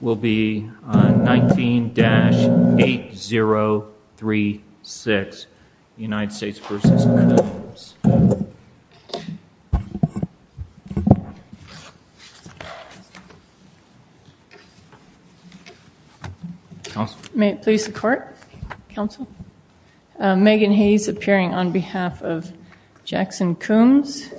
will be on 19-8036 United States v. Coombs May it please the Court, Counsel. Megan Hayes appearing on behalf of Jackson Coombs.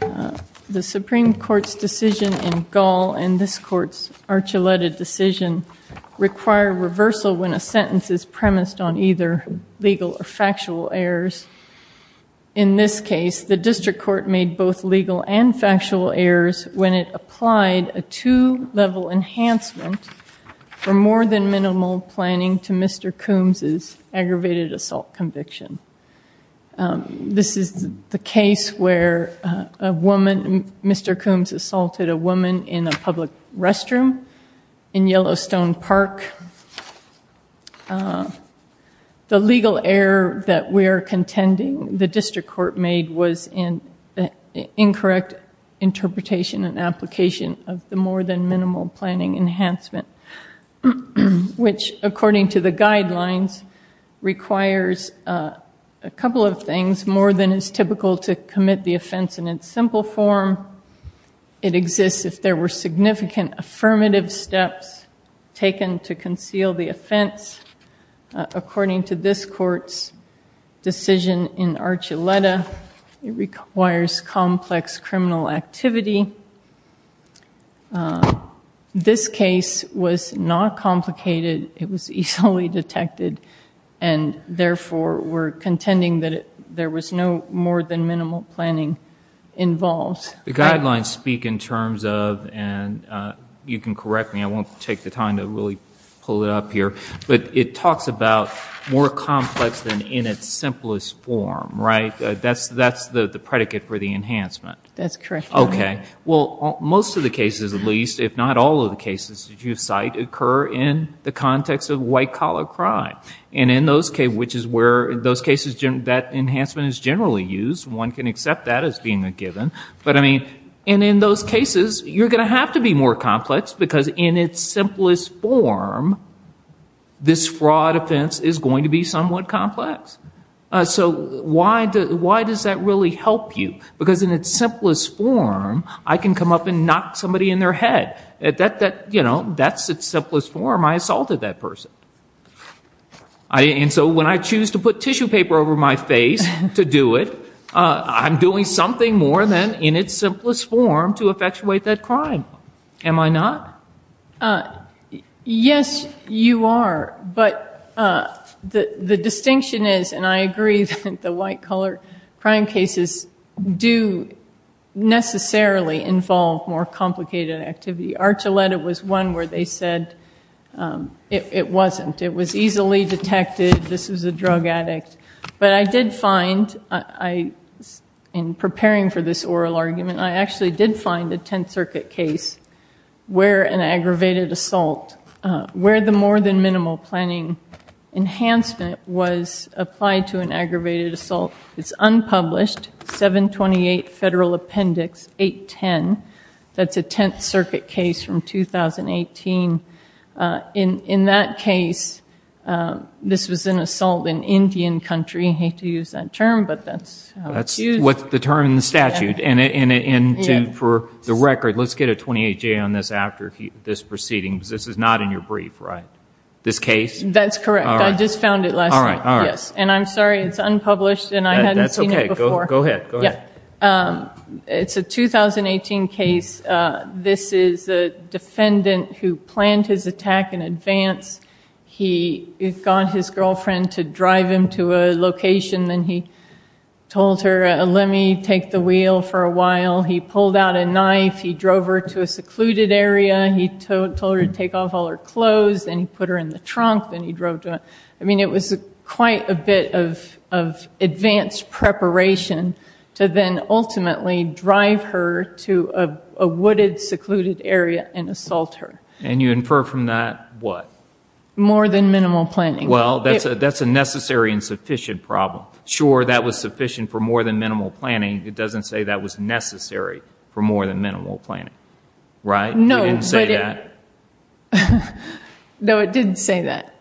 The Supreme Court's decision in this court's Archuleta decision require reversal when a sentence is premised on either legal or factual errors. In this case the district court made both legal and factual errors when it applied a two-level enhancement for more than minimal planning to Mr. Coombs's aggravated assault conviction. This is the case where a woman, Mr. Coombs assaulted a woman in a public restroom in Yellowstone Park. The legal error that we're contending the district court made was an incorrect interpretation and application of the more than minimal planning enhancement which according to the guidelines requires a couple of things. More than is typical to commit the offense in its simple form. It exists if there were significant affirmative steps taken to conceal the offense. According to this court's decision in Archuleta it requires complex criminal activity. This case was not complicated. It was easily detected and therefore we're contending that there was no more than minimal planning involved. The guidelines speak in terms of and you can correct me I won't take the time to really pull it up here but it talks about more complex than in its simplest form right that's that's the the predicate for the enhancement. That's correct. Okay well most of the cases at least if not all of the cases that you cite occur in the context of white collar crime and in those cases which is where those cases that enhancement is generally used one can accept that as being a given but I mean and in those cases you're gonna have to be more complex because in its simplest form this fraud offense is going to be somewhat complex. So why does that really help you? Because in its simplest form I can come up and knock somebody in their head at that you know that's its simplest form I assaulted that person. And so when I choose to put tissue paper over my face to do it I'm doing something more than in its simplest form to effectuate that crime. Am I not? Yes you are but the the distinction is and I agree that the white collar crime cases do necessarily involve more complicated activity. Archuleta was one where they said it wasn't. It was easily detected this is a drug addict but I did find I in preparing for this oral argument I actually did find a Tenth Circuit case where an aggravated assault where the more than minimal planning enhancement was applied to an aggravated assault. It's unpublished 728 Federal Appendix 810 that's a Tenth Circuit case from 2018 in in that case this was an assault in Indian country hate to use that term but that's that's what's the term in the statute and in it and for the record let's get a 28 J on this after this proceedings this is not in your brief right? This case? That's correct I just found it last night yes and I'm sorry it's unpublished and I had that's okay go ahead it's a 2018 case this is a defendant who planned his attack in advance he got his girlfriend to drive him to a location then he told her let me take the wheel for a while he pulled out a knife he drove her to a secluded area he told her to take off all her clothes and he put her in the trunk then he drove to I mean it was quite a bit of advanced preparation to then ultimately drive her to a wooded secluded area and assault her and you infer from that what more than minimal planning well that's a that's a necessary and sufficient problem sure that was sufficient for more than minimal planning it doesn't say that was necessary for more than minimal planning right no no it didn't say that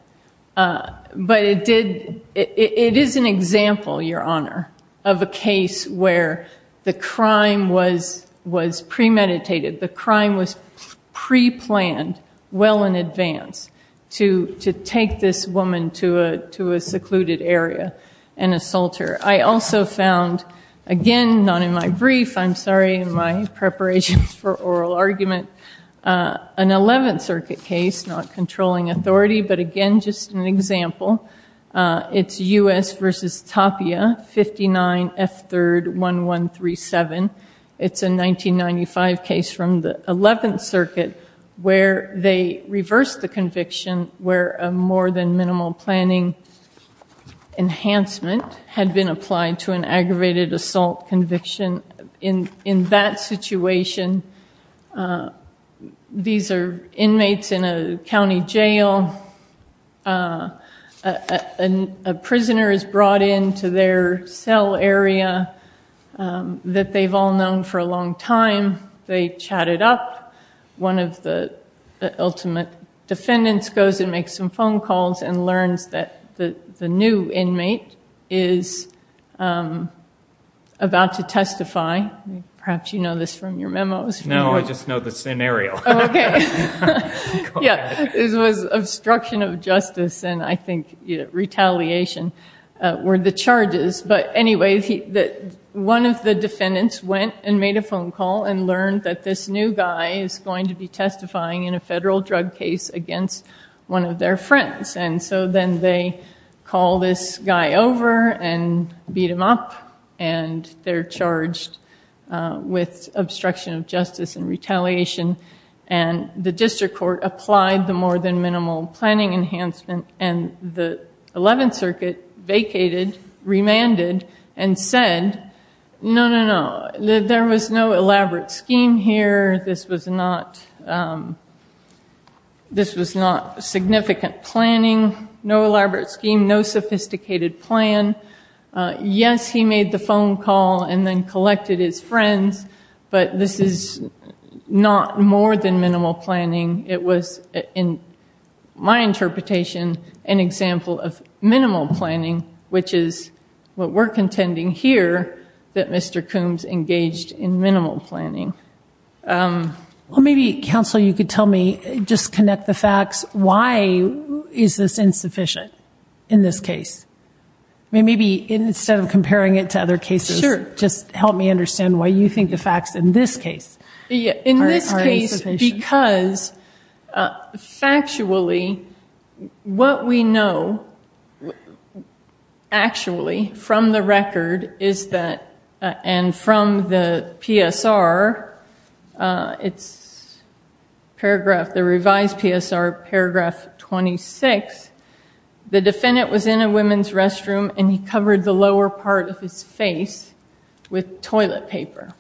but it did it is an example your honor of a case where the crime was was premeditated the crime was pre-planned well in advance to to take this woman to a to a secluded area and assault her I also found again not in my brief I'm sorry in my preparations for oral argument an 11th Circuit case not controlling authority but again just an example it's u.s. versus Tapia 59 f-3rd 1137 it's a 1995 case from the 11th Circuit where they reversed the conviction where a more than minimal planning enhancement had been applied to an aggravated assault conviction in in that situation these are inmates in a county jail and a prisoner is brought into their cell area that they've all known for a long time they chatted up one of the ultimate defendants goes and makes some phone calls and learns that the the new inmate is about to testify perhaps you know this from your memos no I just know the scenario okay yeah this was obstruction of justice and I think retaliation were the charges but anyway he that one of the defendants went and phone call and learned that this new guy is going to be testifying in a federal drug case against one of their friends and so then they call this guy over and beat him up and they're charged with obstruction of justice and retaliation and the district court applied the more than minimal planning enhancement and the 11th Circuit vacated remanded and said no no no there was no elaborate scheme here this was not this was not significant planning no elaborate scheme no sophisticated plan yes he made the phone call and then collected his friends but this is not more than minimal planning it was in my interpretation an example of minimal planning which is what we're contending here that mr. Coombs engaged in minimal planning well maybe counsel you could tell me just connect the facts why is this insufficient in this case maybe instead of comparing it to other cases just help me understand why you think the facts in this case yeah in this case because factually what we know actually from the record is that and from the PSR it's paragraph the revised PSR paragraph 26 the defendant was in a women's restroom and he covered the lower part of his face with toilet paper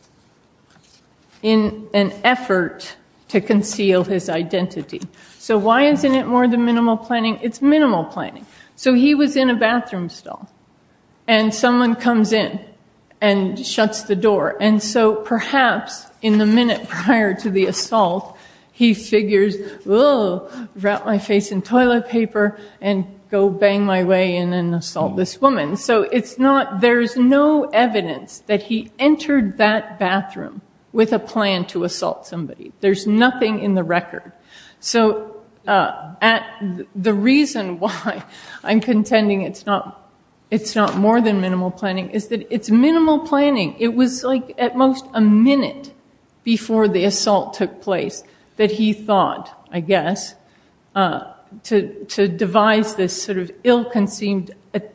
in an effort to conceal his identity so why isn't it more than minimal planning it's minimal planning so he was in a someone comes in and shuts the door and so perhaps in the minute prior to the assault he figures well wrap my face in toilet paper and go bang my way in and assault this woman so it's not there's no evidence that he entered that bathroom with a plan to assault somebody there's nothing in the record so at the reason why I'm contending it's not it's not more than minimal planning is that it's minimal planning it was like at most a minute before the assault took place that he thought I guess to devise this sort of ill-conceived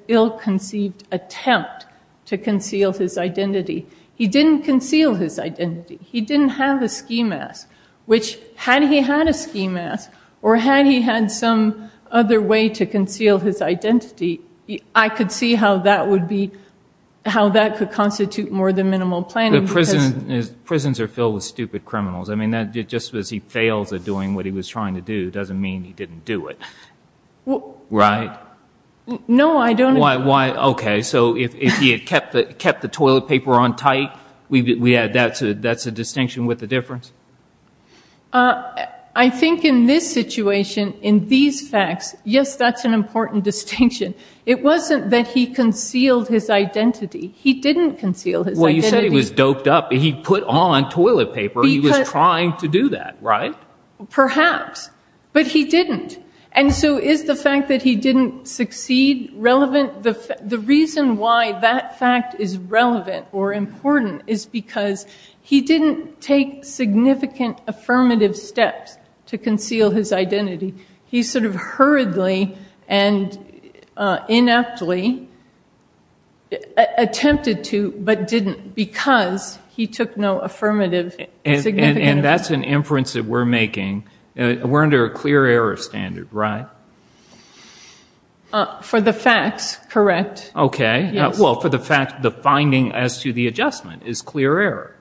ill-conceived attempt to conceal his identity he didn't conceal his identity he didn't have a ski mask which had he had a ski mask or had he had some other way to conceal his identity I could see how that would be how that could constitute more than minimal plan the prison is prisons are filled with stupid criminals I mean that just as he fails at doing what he was trying to do doesn't mean he didn't do it well right no I don't why why okay so if he had kept that kept the difference I think in this situation in these facts yes that's an important distinction it wasn't that he concealed his identity he didn't conceal his well you said he was doped up he put on toilet paper he was trying to do that right perhaps but he didn't and so is the fact that he didn't succeed relevant the reason why that fact is relevant or important is because he didn't take significant affirmative steps to conceal his identity he sort of hurriedly and ineptly attempted to but didn't because he took no affirmative and that's an inference that we're making we're under a clear error standard right for the facts correct okay well for the fact the finding as to the adjustment is clear error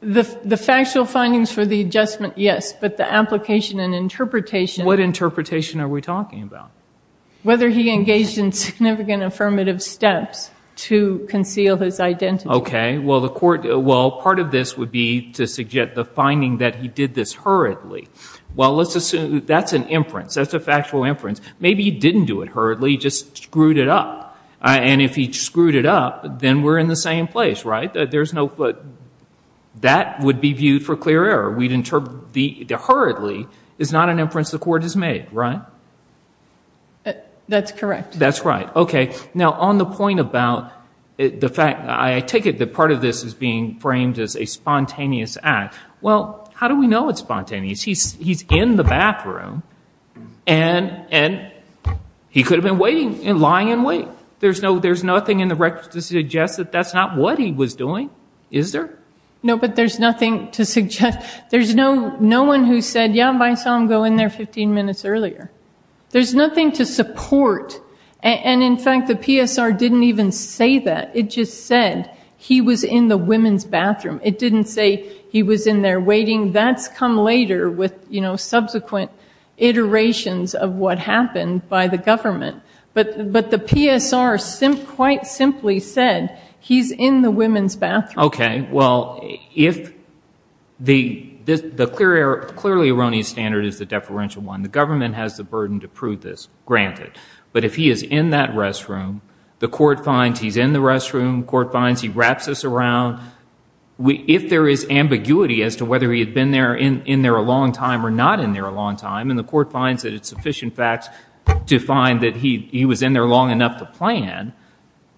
the the factual findings for the adjustment yes but the application and interpretation what interpretation are we talking about whether he engaged in significant affirmative steps to conceal his identity okay well the court well part of this would be to suggest the finding that he did this hurriedly well let's assume that's an inference that's a factual inference maybe he just screwed it up and if he screwed it up then we're in the same place right there's no foot that would be viewed for clear error we'd interpret the hurriedly is not an inference the court has made right that's correct that's right okay now on the point about the fact I take it that part of this is being framed as a spontaneous act well how do we know it's spontaneous he's he's in the bathroom and and he could have been waiting and lying in wait there's no there's nothing in the records to suggest that that's not what he was doing is there no but there's nothing to suggest there's no no one who said yeah my son go in there 15 minutes earlier there's nothing to support and in fact the PSR didn't even say that it just said he was in the women's bathroom it didn't say he was in there waiting that's come later with you know subsequent iterations of what happened by the government but but the PSR simp quite simply said he's in the women's bathroom okay well if the this the clear error clearly erroneous standard is the deferential one the government has the burden to prove this granted but if he is in that restroom the court finds he's in the restroom court finds he wraps us around we if there is ambiguity as to whether he had been there in in there a long time or not in there a long time and the court finds that it's sufficient facts to find that he he was in there long enough to plan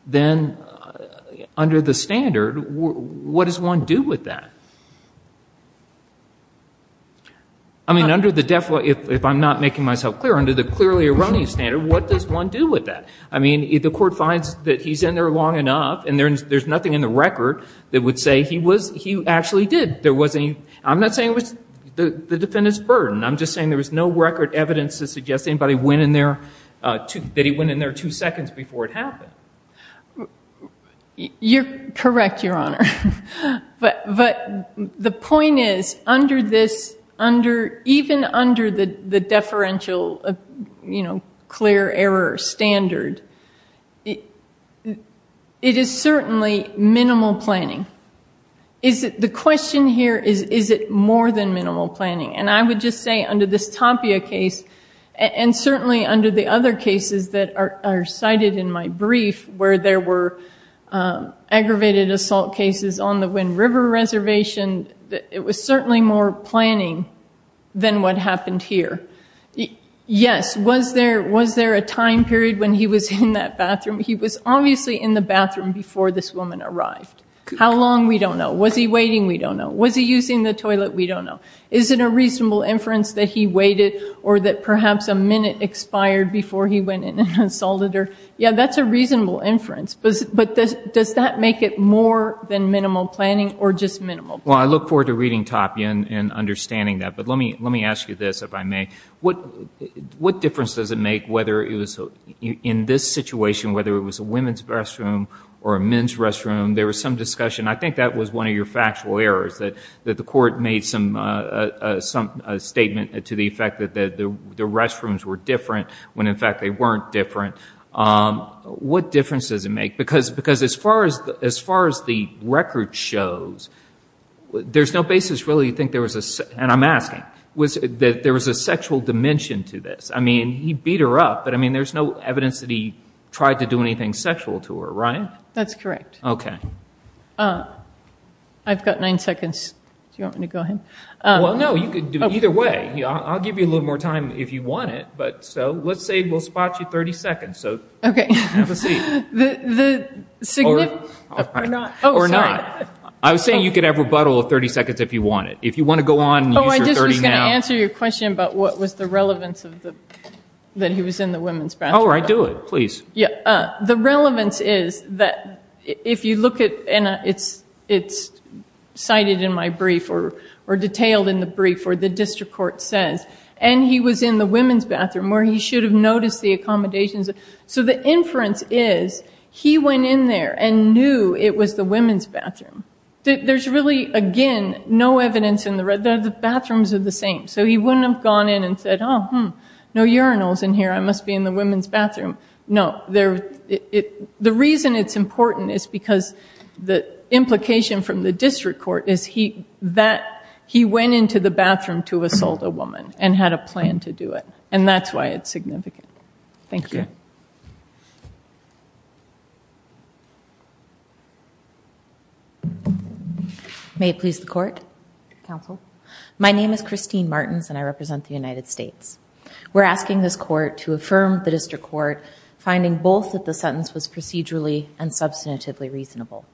then under the standard what does one do with that I mean under the def what if I'm not making myself clear under the clearly erroneous standard what does one do with that I mean if the court finds that he's in there long enough and there's there's nothing in the record that would say he was he actually did there was any I'm not saying it was the the defendants burden I'm just saying there was no record evidence to suggest anybody went in there to that he went in there two seconds before it happened you're correct your honor but but the point is under this under even under the the error standard it is certainly minimal planning is it the question here is is it more than minimal planning and I would just say under this Tapia case and certainly under the other cases that are cited in my brief where there were aggravated assault cases on the Wind River Reservation that it was certainly more planning than what happened here yes was there was there a time period when he was in that bathroom he was obviously in the bathroom before this woman arrived how long we don't know was he waiting we don't know was he using the toilet we don't know is it a reasonable inference that he waited or that perhaps a minute expired before he went in and consolidated yeah that's a reasonable inference but but this does that make it more than minimal planning or just minimal well I look forward to reading Tapia and understanding that but let me let me ask you this if I may what what difference does it make whether it was in this situation whether it was a women's restroom or a men's restroom there was some discussion I think that was one of your factual errors that that the court made some some statement to the effect that the the restrooms were different when in fact they weren't different what difference does it make because because as far as as far as the record shows there's no basis really think there was a and I'm asking was that there was a sexual dimension to this I mean he beat her up but I mean there's no evidence that he tried to do anything sexual to her right that's correct okay uh I've got nine seconds you want me to go ahead well no you could do either way yeah I'll give you a little more time if you want it but so let's say we'll spot you 30 seconds so the signal or not oh we're not I was saying you could have rebuttal of 30 seconds if you want it if you want to go on oh I just gonna answer your question but what was the relevance of the that he was in the women's bathroom all right do it please yeah the relevance is that if you look at and it's it's cited in my brief or or detailed in the brief or the district court says and he was in the accommodations so the inference is he went in there and knew it was the women's bathroom there's really again no evidence in the red there the bathrooms are the same so he wouldn't have gone in and said oh hmm no urinals in here I must be in the women's bathroom no there it the reason it's important is because the implication from the district court is he that he went into the bathroom to thank you may it please the court counsel my name is Christine Martins and I represent the United States we're asking this court to affirm the district court finding both that the sentence was procedurally and substantively reasonable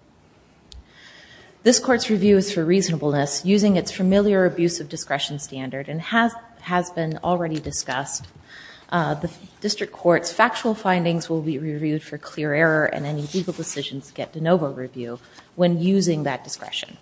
this court's review is for reasonableness using its familiar abuse of discretion standard and has has been already discussed the district court's factual findings will be reviewed for clear error and any legal decisions get de novo review when using that discretion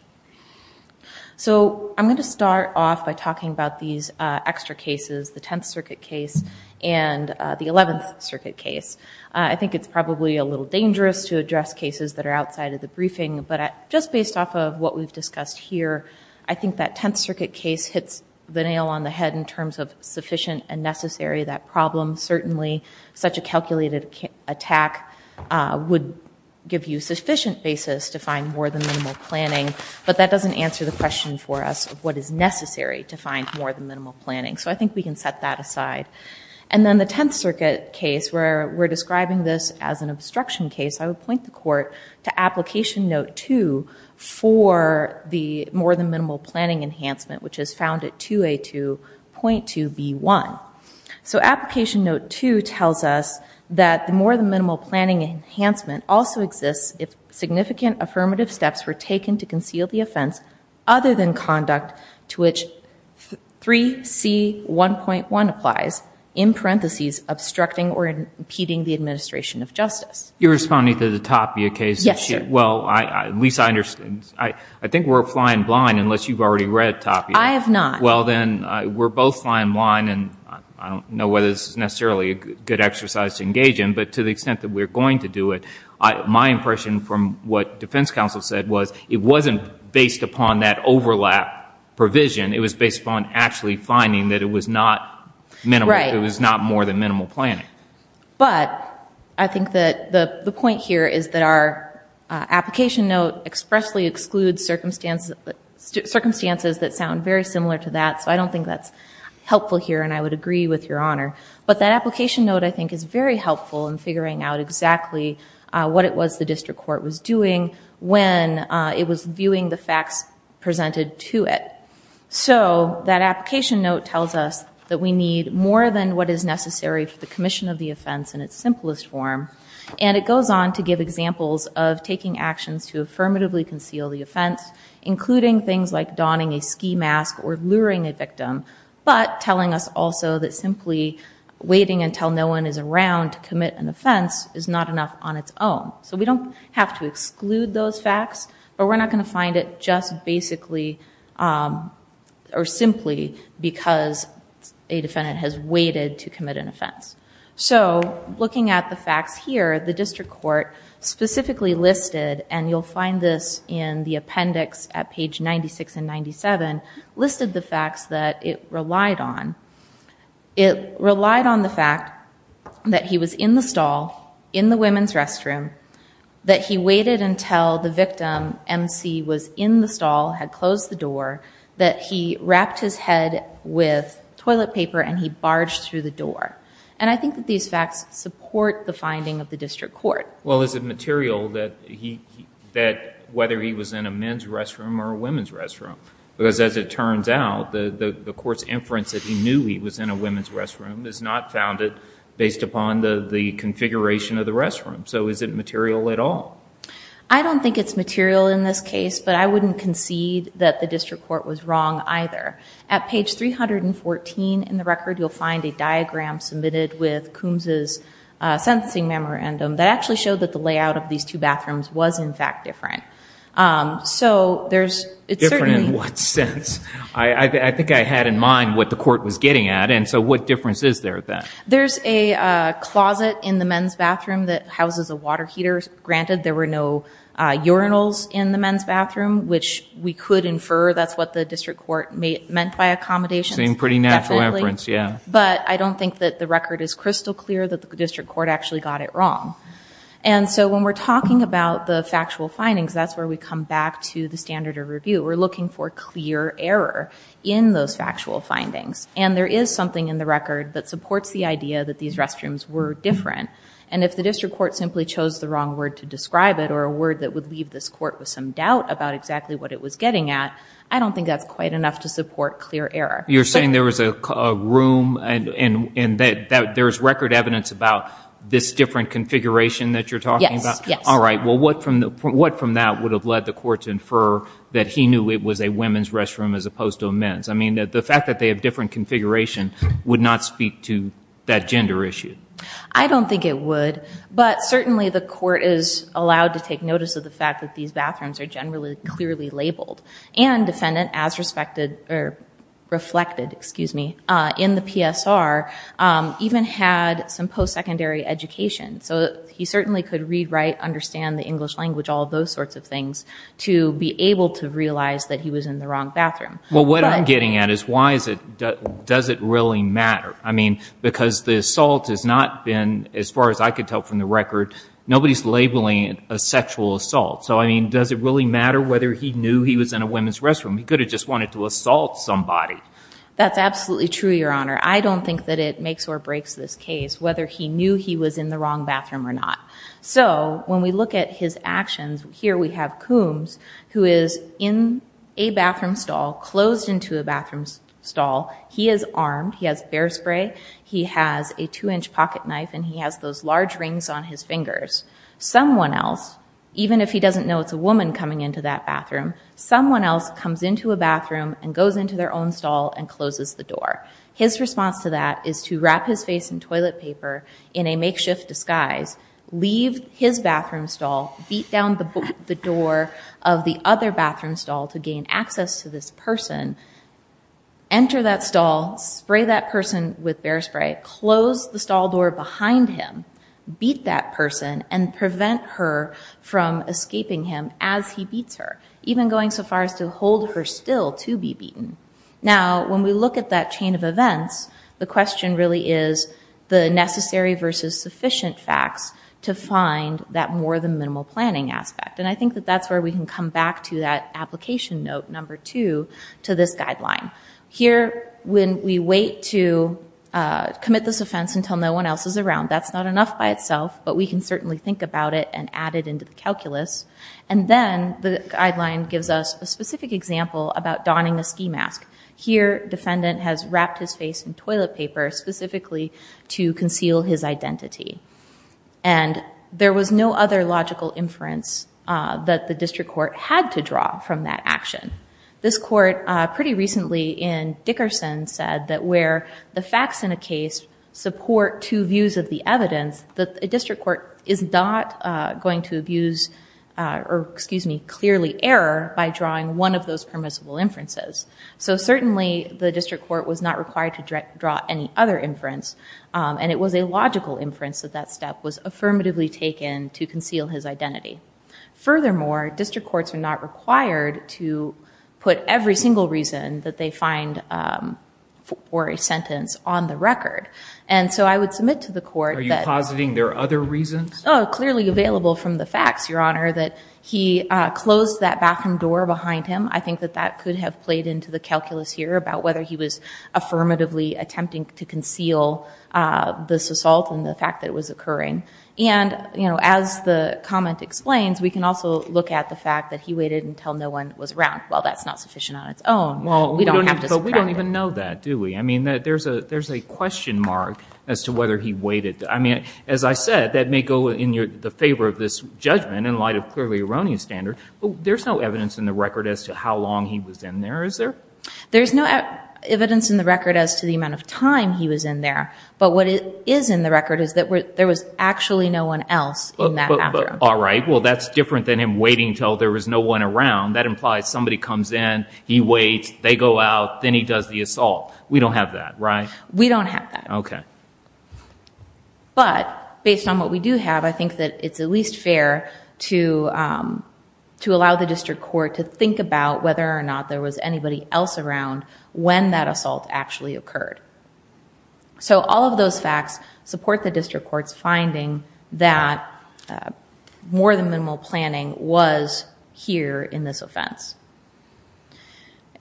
so I'm going to start off by talking about these extra cases the 10th Circuit case and the 11th Circuit case I think it's probably a little dangerous to address cases that are outside of the briefing but just based off of what we've discussed here I think that 10th hits the nail on the head in terms of sufficient and necessary that problem certainly such a calculated attack would give you sufficient basis to find more than minimal planning but that doesn't answer the question for us what is necessary to find more than minimal planning so I think we can set that aside and then the 10th Circuit case where we're describing this as an obstruction case I would point the court to application note 2 for the more than minimal planning enhancement which is found at 2A2.2B1 so application note 2 tells us that the more than minimal planning enhancement also exists if significant affirmative steps were taken to conceal the offense other than conduct to which 3C1.1 applies in parentheses obstructing or impeding the administration of justice you're responding to the Tapia case yes well I at least I understand I I think we're flying blind unless you've already read Tapia I have not well then we're both flying blind and I don't know whether this is necessarily a good exercise to engage in but to the extent that we're going to do it I my impression from what defense counsel said was it wasn't based upon that overlap provision it was based upon actually finding that it was not minimal it was not more than minimal planning but I think that the point here is that our application note expressly circumstances that sound very similar to that so I don't think that's helpful here and I would agree with your honor but that application note I think is very helpful in figuring out exactly what it was the district court was doing when it was viewing the facts presented to it so that application note tells us that we need more than what is necessary for the commission of the offense in its simplest form and it goes on to give examples of taking actions to the offense including things like donning a ski mask or luring a victim but telling us also that simply waiting until no one is around to commit an offense is not enough on its own so we don't have to exclude those facts but we're not going to find it just basically or simply because a defendant has waited to commit an offense so looking at the facts here the district court specifically listed and you'll find this in the appendix at page 96 and 97 listed the facts that it relied on it relied on the fact that he was in the stall in the women's restroom that he waited until the victim MC was in the stall had closed the door that he wrapped his head with toilet paper and he barged through the door and I think that these facts support the finding of the district court well is it material that he that whether he was in a men's restroom or a women's restroom because as it turns out the the courts inference that he knew he was in a women's restroom is not founded based upon the configuration of the restroom so is it material at all I don't think it's material in this case but I wouldn't concede that the district court was wrong either at page 314 in the record you'll find a diagram submitted with is sensing memorandum that actually showed that the layout of these two bathrooms was in fact different so there's it's certainly what sense I think I had in mind what the court was getting at and so what difference is there that there's a closet in the men's bathroom that houses a water heater granted there were no urinals in the men's bathroom which we could infer that's what the district court made meant by accommodation pretty natural inference but I don't think that the record is crystal clear that the district court actually got it wrong and so when we're talking about the factual findings that's where we come back to the standard of review we're looking for clear error in those factual findings and there is something in the record that supports the idea that these restrooms were different and if the district court simply chose the wrong word to describe it or a word that would leave this court with some doubt about exactly what it was getting at I don't think that's quite enough to support clear error you're saying there was a room and in that there's record evidence about this different configuration that you're talking about all right well what from the what from that would have led the court to infer that he knew it was a women's restroom as opposed to a men's I mean that the fact that they have different configuration would not speak to that gender issue I don't think it would but certainly the court is allowed to take notice of the fact that these bathrooms are generally clearly labeled and defendant as respected or reflected excuse me in the PSR even had some post-secondary education so he certainly could read write understand the English language all those sorts of things to be able to realize that he was in the wrong bathroom well what I'm getting at is why is it does it really matter I mean because the assault has not been as far as I could tell from the record nobody's labeling a sexual assault so I mean does it really matter whether he knew he was in a women's restroom he could have just wanted to assault somebody that's absolutely true your honor I don't think that it makes or breaks this case whether he knew he was in the wrong bathroom or not so when we look at his actions here we have Coombs who is in a bathroom stall closed into a bathroom stall he is armed he has bear spray he has a two-inch pocket knife and he has those large rings on his fingers someone else even if he doesn't know it's a bathroom someone else comes into a bathroom and goes into their own stall and closes the door his response to that is to wrap his face in toilet paper in a makeshift disguise leave his bathroom stall beat down the book the door of the other bathroom stall to gain access to this person enter that stall spray that person with bear spray close the stall door behind him beat that person and even going so far as to hold her still to be beaten now when we look at that chain of events the question really is the necessary versus sufficient facts to find that more than minimal planning aspect and I think that that's where we can come back to that application note number two to this guideline here when we wait to commit this offense until no one else is around that's not enough by itself but we can certainly think about it and add it into the calculus and then the guideline gives us a specific example about donning a ski mask here defendant has wrapped his face in toilet paper specifically to conceal his identity and there was no other logical inference that the district court had to draw from that action this court pretty recently in Dickerson said that where the facts in a case support two views of the evidence that a district court is not going to abuse or excuse me clearly error by drawing one of those permissible inferences so certainly the district court was not required to draw any other inference and it was a logical inference that that step was affirmatively taken to conceal his identity furthermore district courts are not required to put every single reason that they find for a sentence on the clearly available from the facts your honor that he closed that bathroom door behind him I think that that could have played into the calculus here about whether he was affirmatively attempting to conceal this assault and the fact that was occurring and you know as the comment explains we can also look at the fact that he waited until no one was around well that's not sufficient on its own well we don't even know that do we I mean that there's a there's a question mark as to whether he waited I mean as I said that may go in your the favor of this judgment in light of clearly erroneous standard there's no evidence in the record as to how long he was in there is there there's no evidence in the record as to the amount of time he was in there but what it is in the record is that where there was actually no one else but all right well that's different than him waiting till there was no one around that implies somebody comes in he waits they go out then he does the assault we don't have that right we don't have that okay but based on what we do have I think that it's at least fair to to allow the district court to think about whether or not there was anybody else around when that assault actually occurred so all of those facts support the district courts finding that more than minimal planning was here in this offense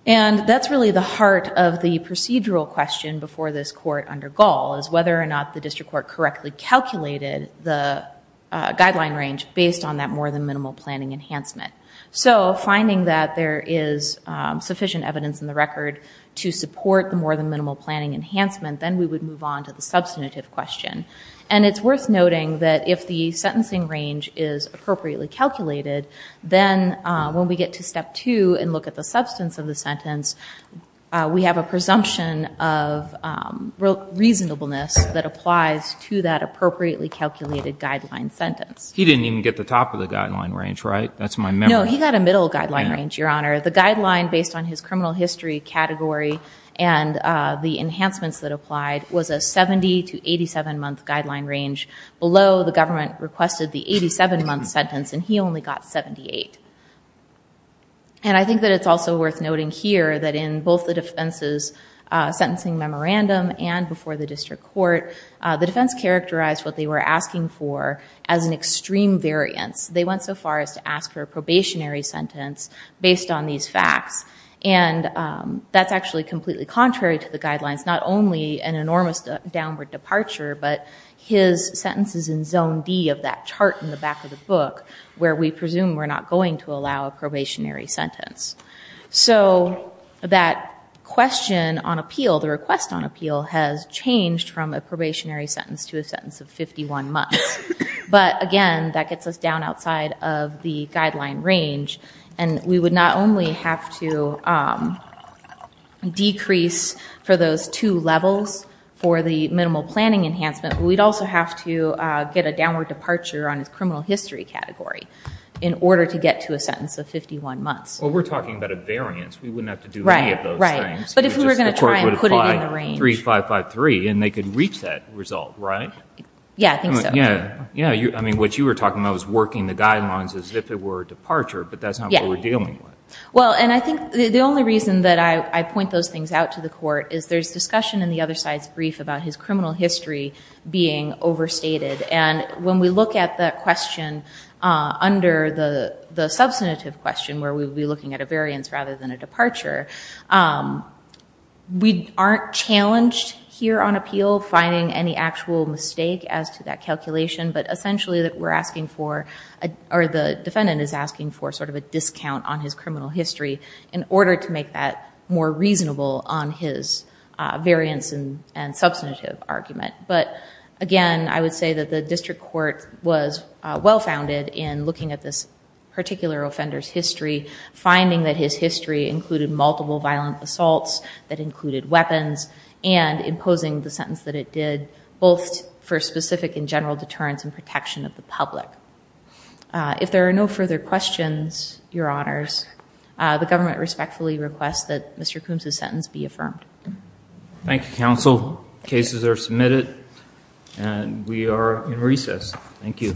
and that's really the heart of the procedural question before this court under gall is whether or not the district court correctly calculated the guideline range based on that more than minimal planning enhancement so finding that there is sufficient evidence in the record to support the more than minimal planning enhancement then we would move on to the substantive question and it's worth noting that if the sentencing range is appropriately calculated then when we get to step two and look at the substance of the sentence we have a reasonableness that applies to that appropriately calculated guideline sentence he didn't even get the top of the guideline range right that's my no he got a middle guideline range your honor the guideline based on his criminal history category and the enhancements that applied was a 70 to 87 month guideline range below the government requested the 87 month sentence and he only got 78 and I think that it's also worth noting here that in both the defenses sentencing memorandum and before the district court the defense characterized what they were asking for as an extreme variance they went so far as to ask for a probationary sentence based on these facts and that's actually completely contrary to the guidelines not only an enormous downward departure but his sentences in zone D of that chart in the back of the book where we presume we're not going to allow a probationary sentence so that question on appeal the request on appeal has changed from a probationary sentence to a sentence of 51 months but again that gets us down outside of the guideline range and we would not only have to decrease for those two levels for the minimal planning enhancement we'd also have to get a downward departure on his in order to get to a sentence of 51 months we're talking about a variance we wouldn't have to do right right but if we were going to try and put it in the range 3553 and they could reach that result right yeah yeah yeah you know you I mean what you were talking about was working the guidelines as if it were departure but that's not what we're dealing with well and I think the only reason that I point those things out to the court is there's discussion in the other side's brief about his criminal history being overstated and when we look at that question under the the substantive question where we would be looking at a variance rather than a departure we aren't challenged here on appeal finding any actual mistake as to that calculation but essentially that we're asking for or the defendant is asking for sort of a discount on his criminal history in order to make that more reasonable on his variance and substantive argument but again I would say that the district court was well founded in looking at this particular offenders history finding that his history included multiple violent assaults that included weapons and imposing the sentence that it did both for specific in general deterrence and protection of the public if there are no further questions your honors the government respectfully requests that mr. Coombs his sentence be cases are submitted and we are in recess thank you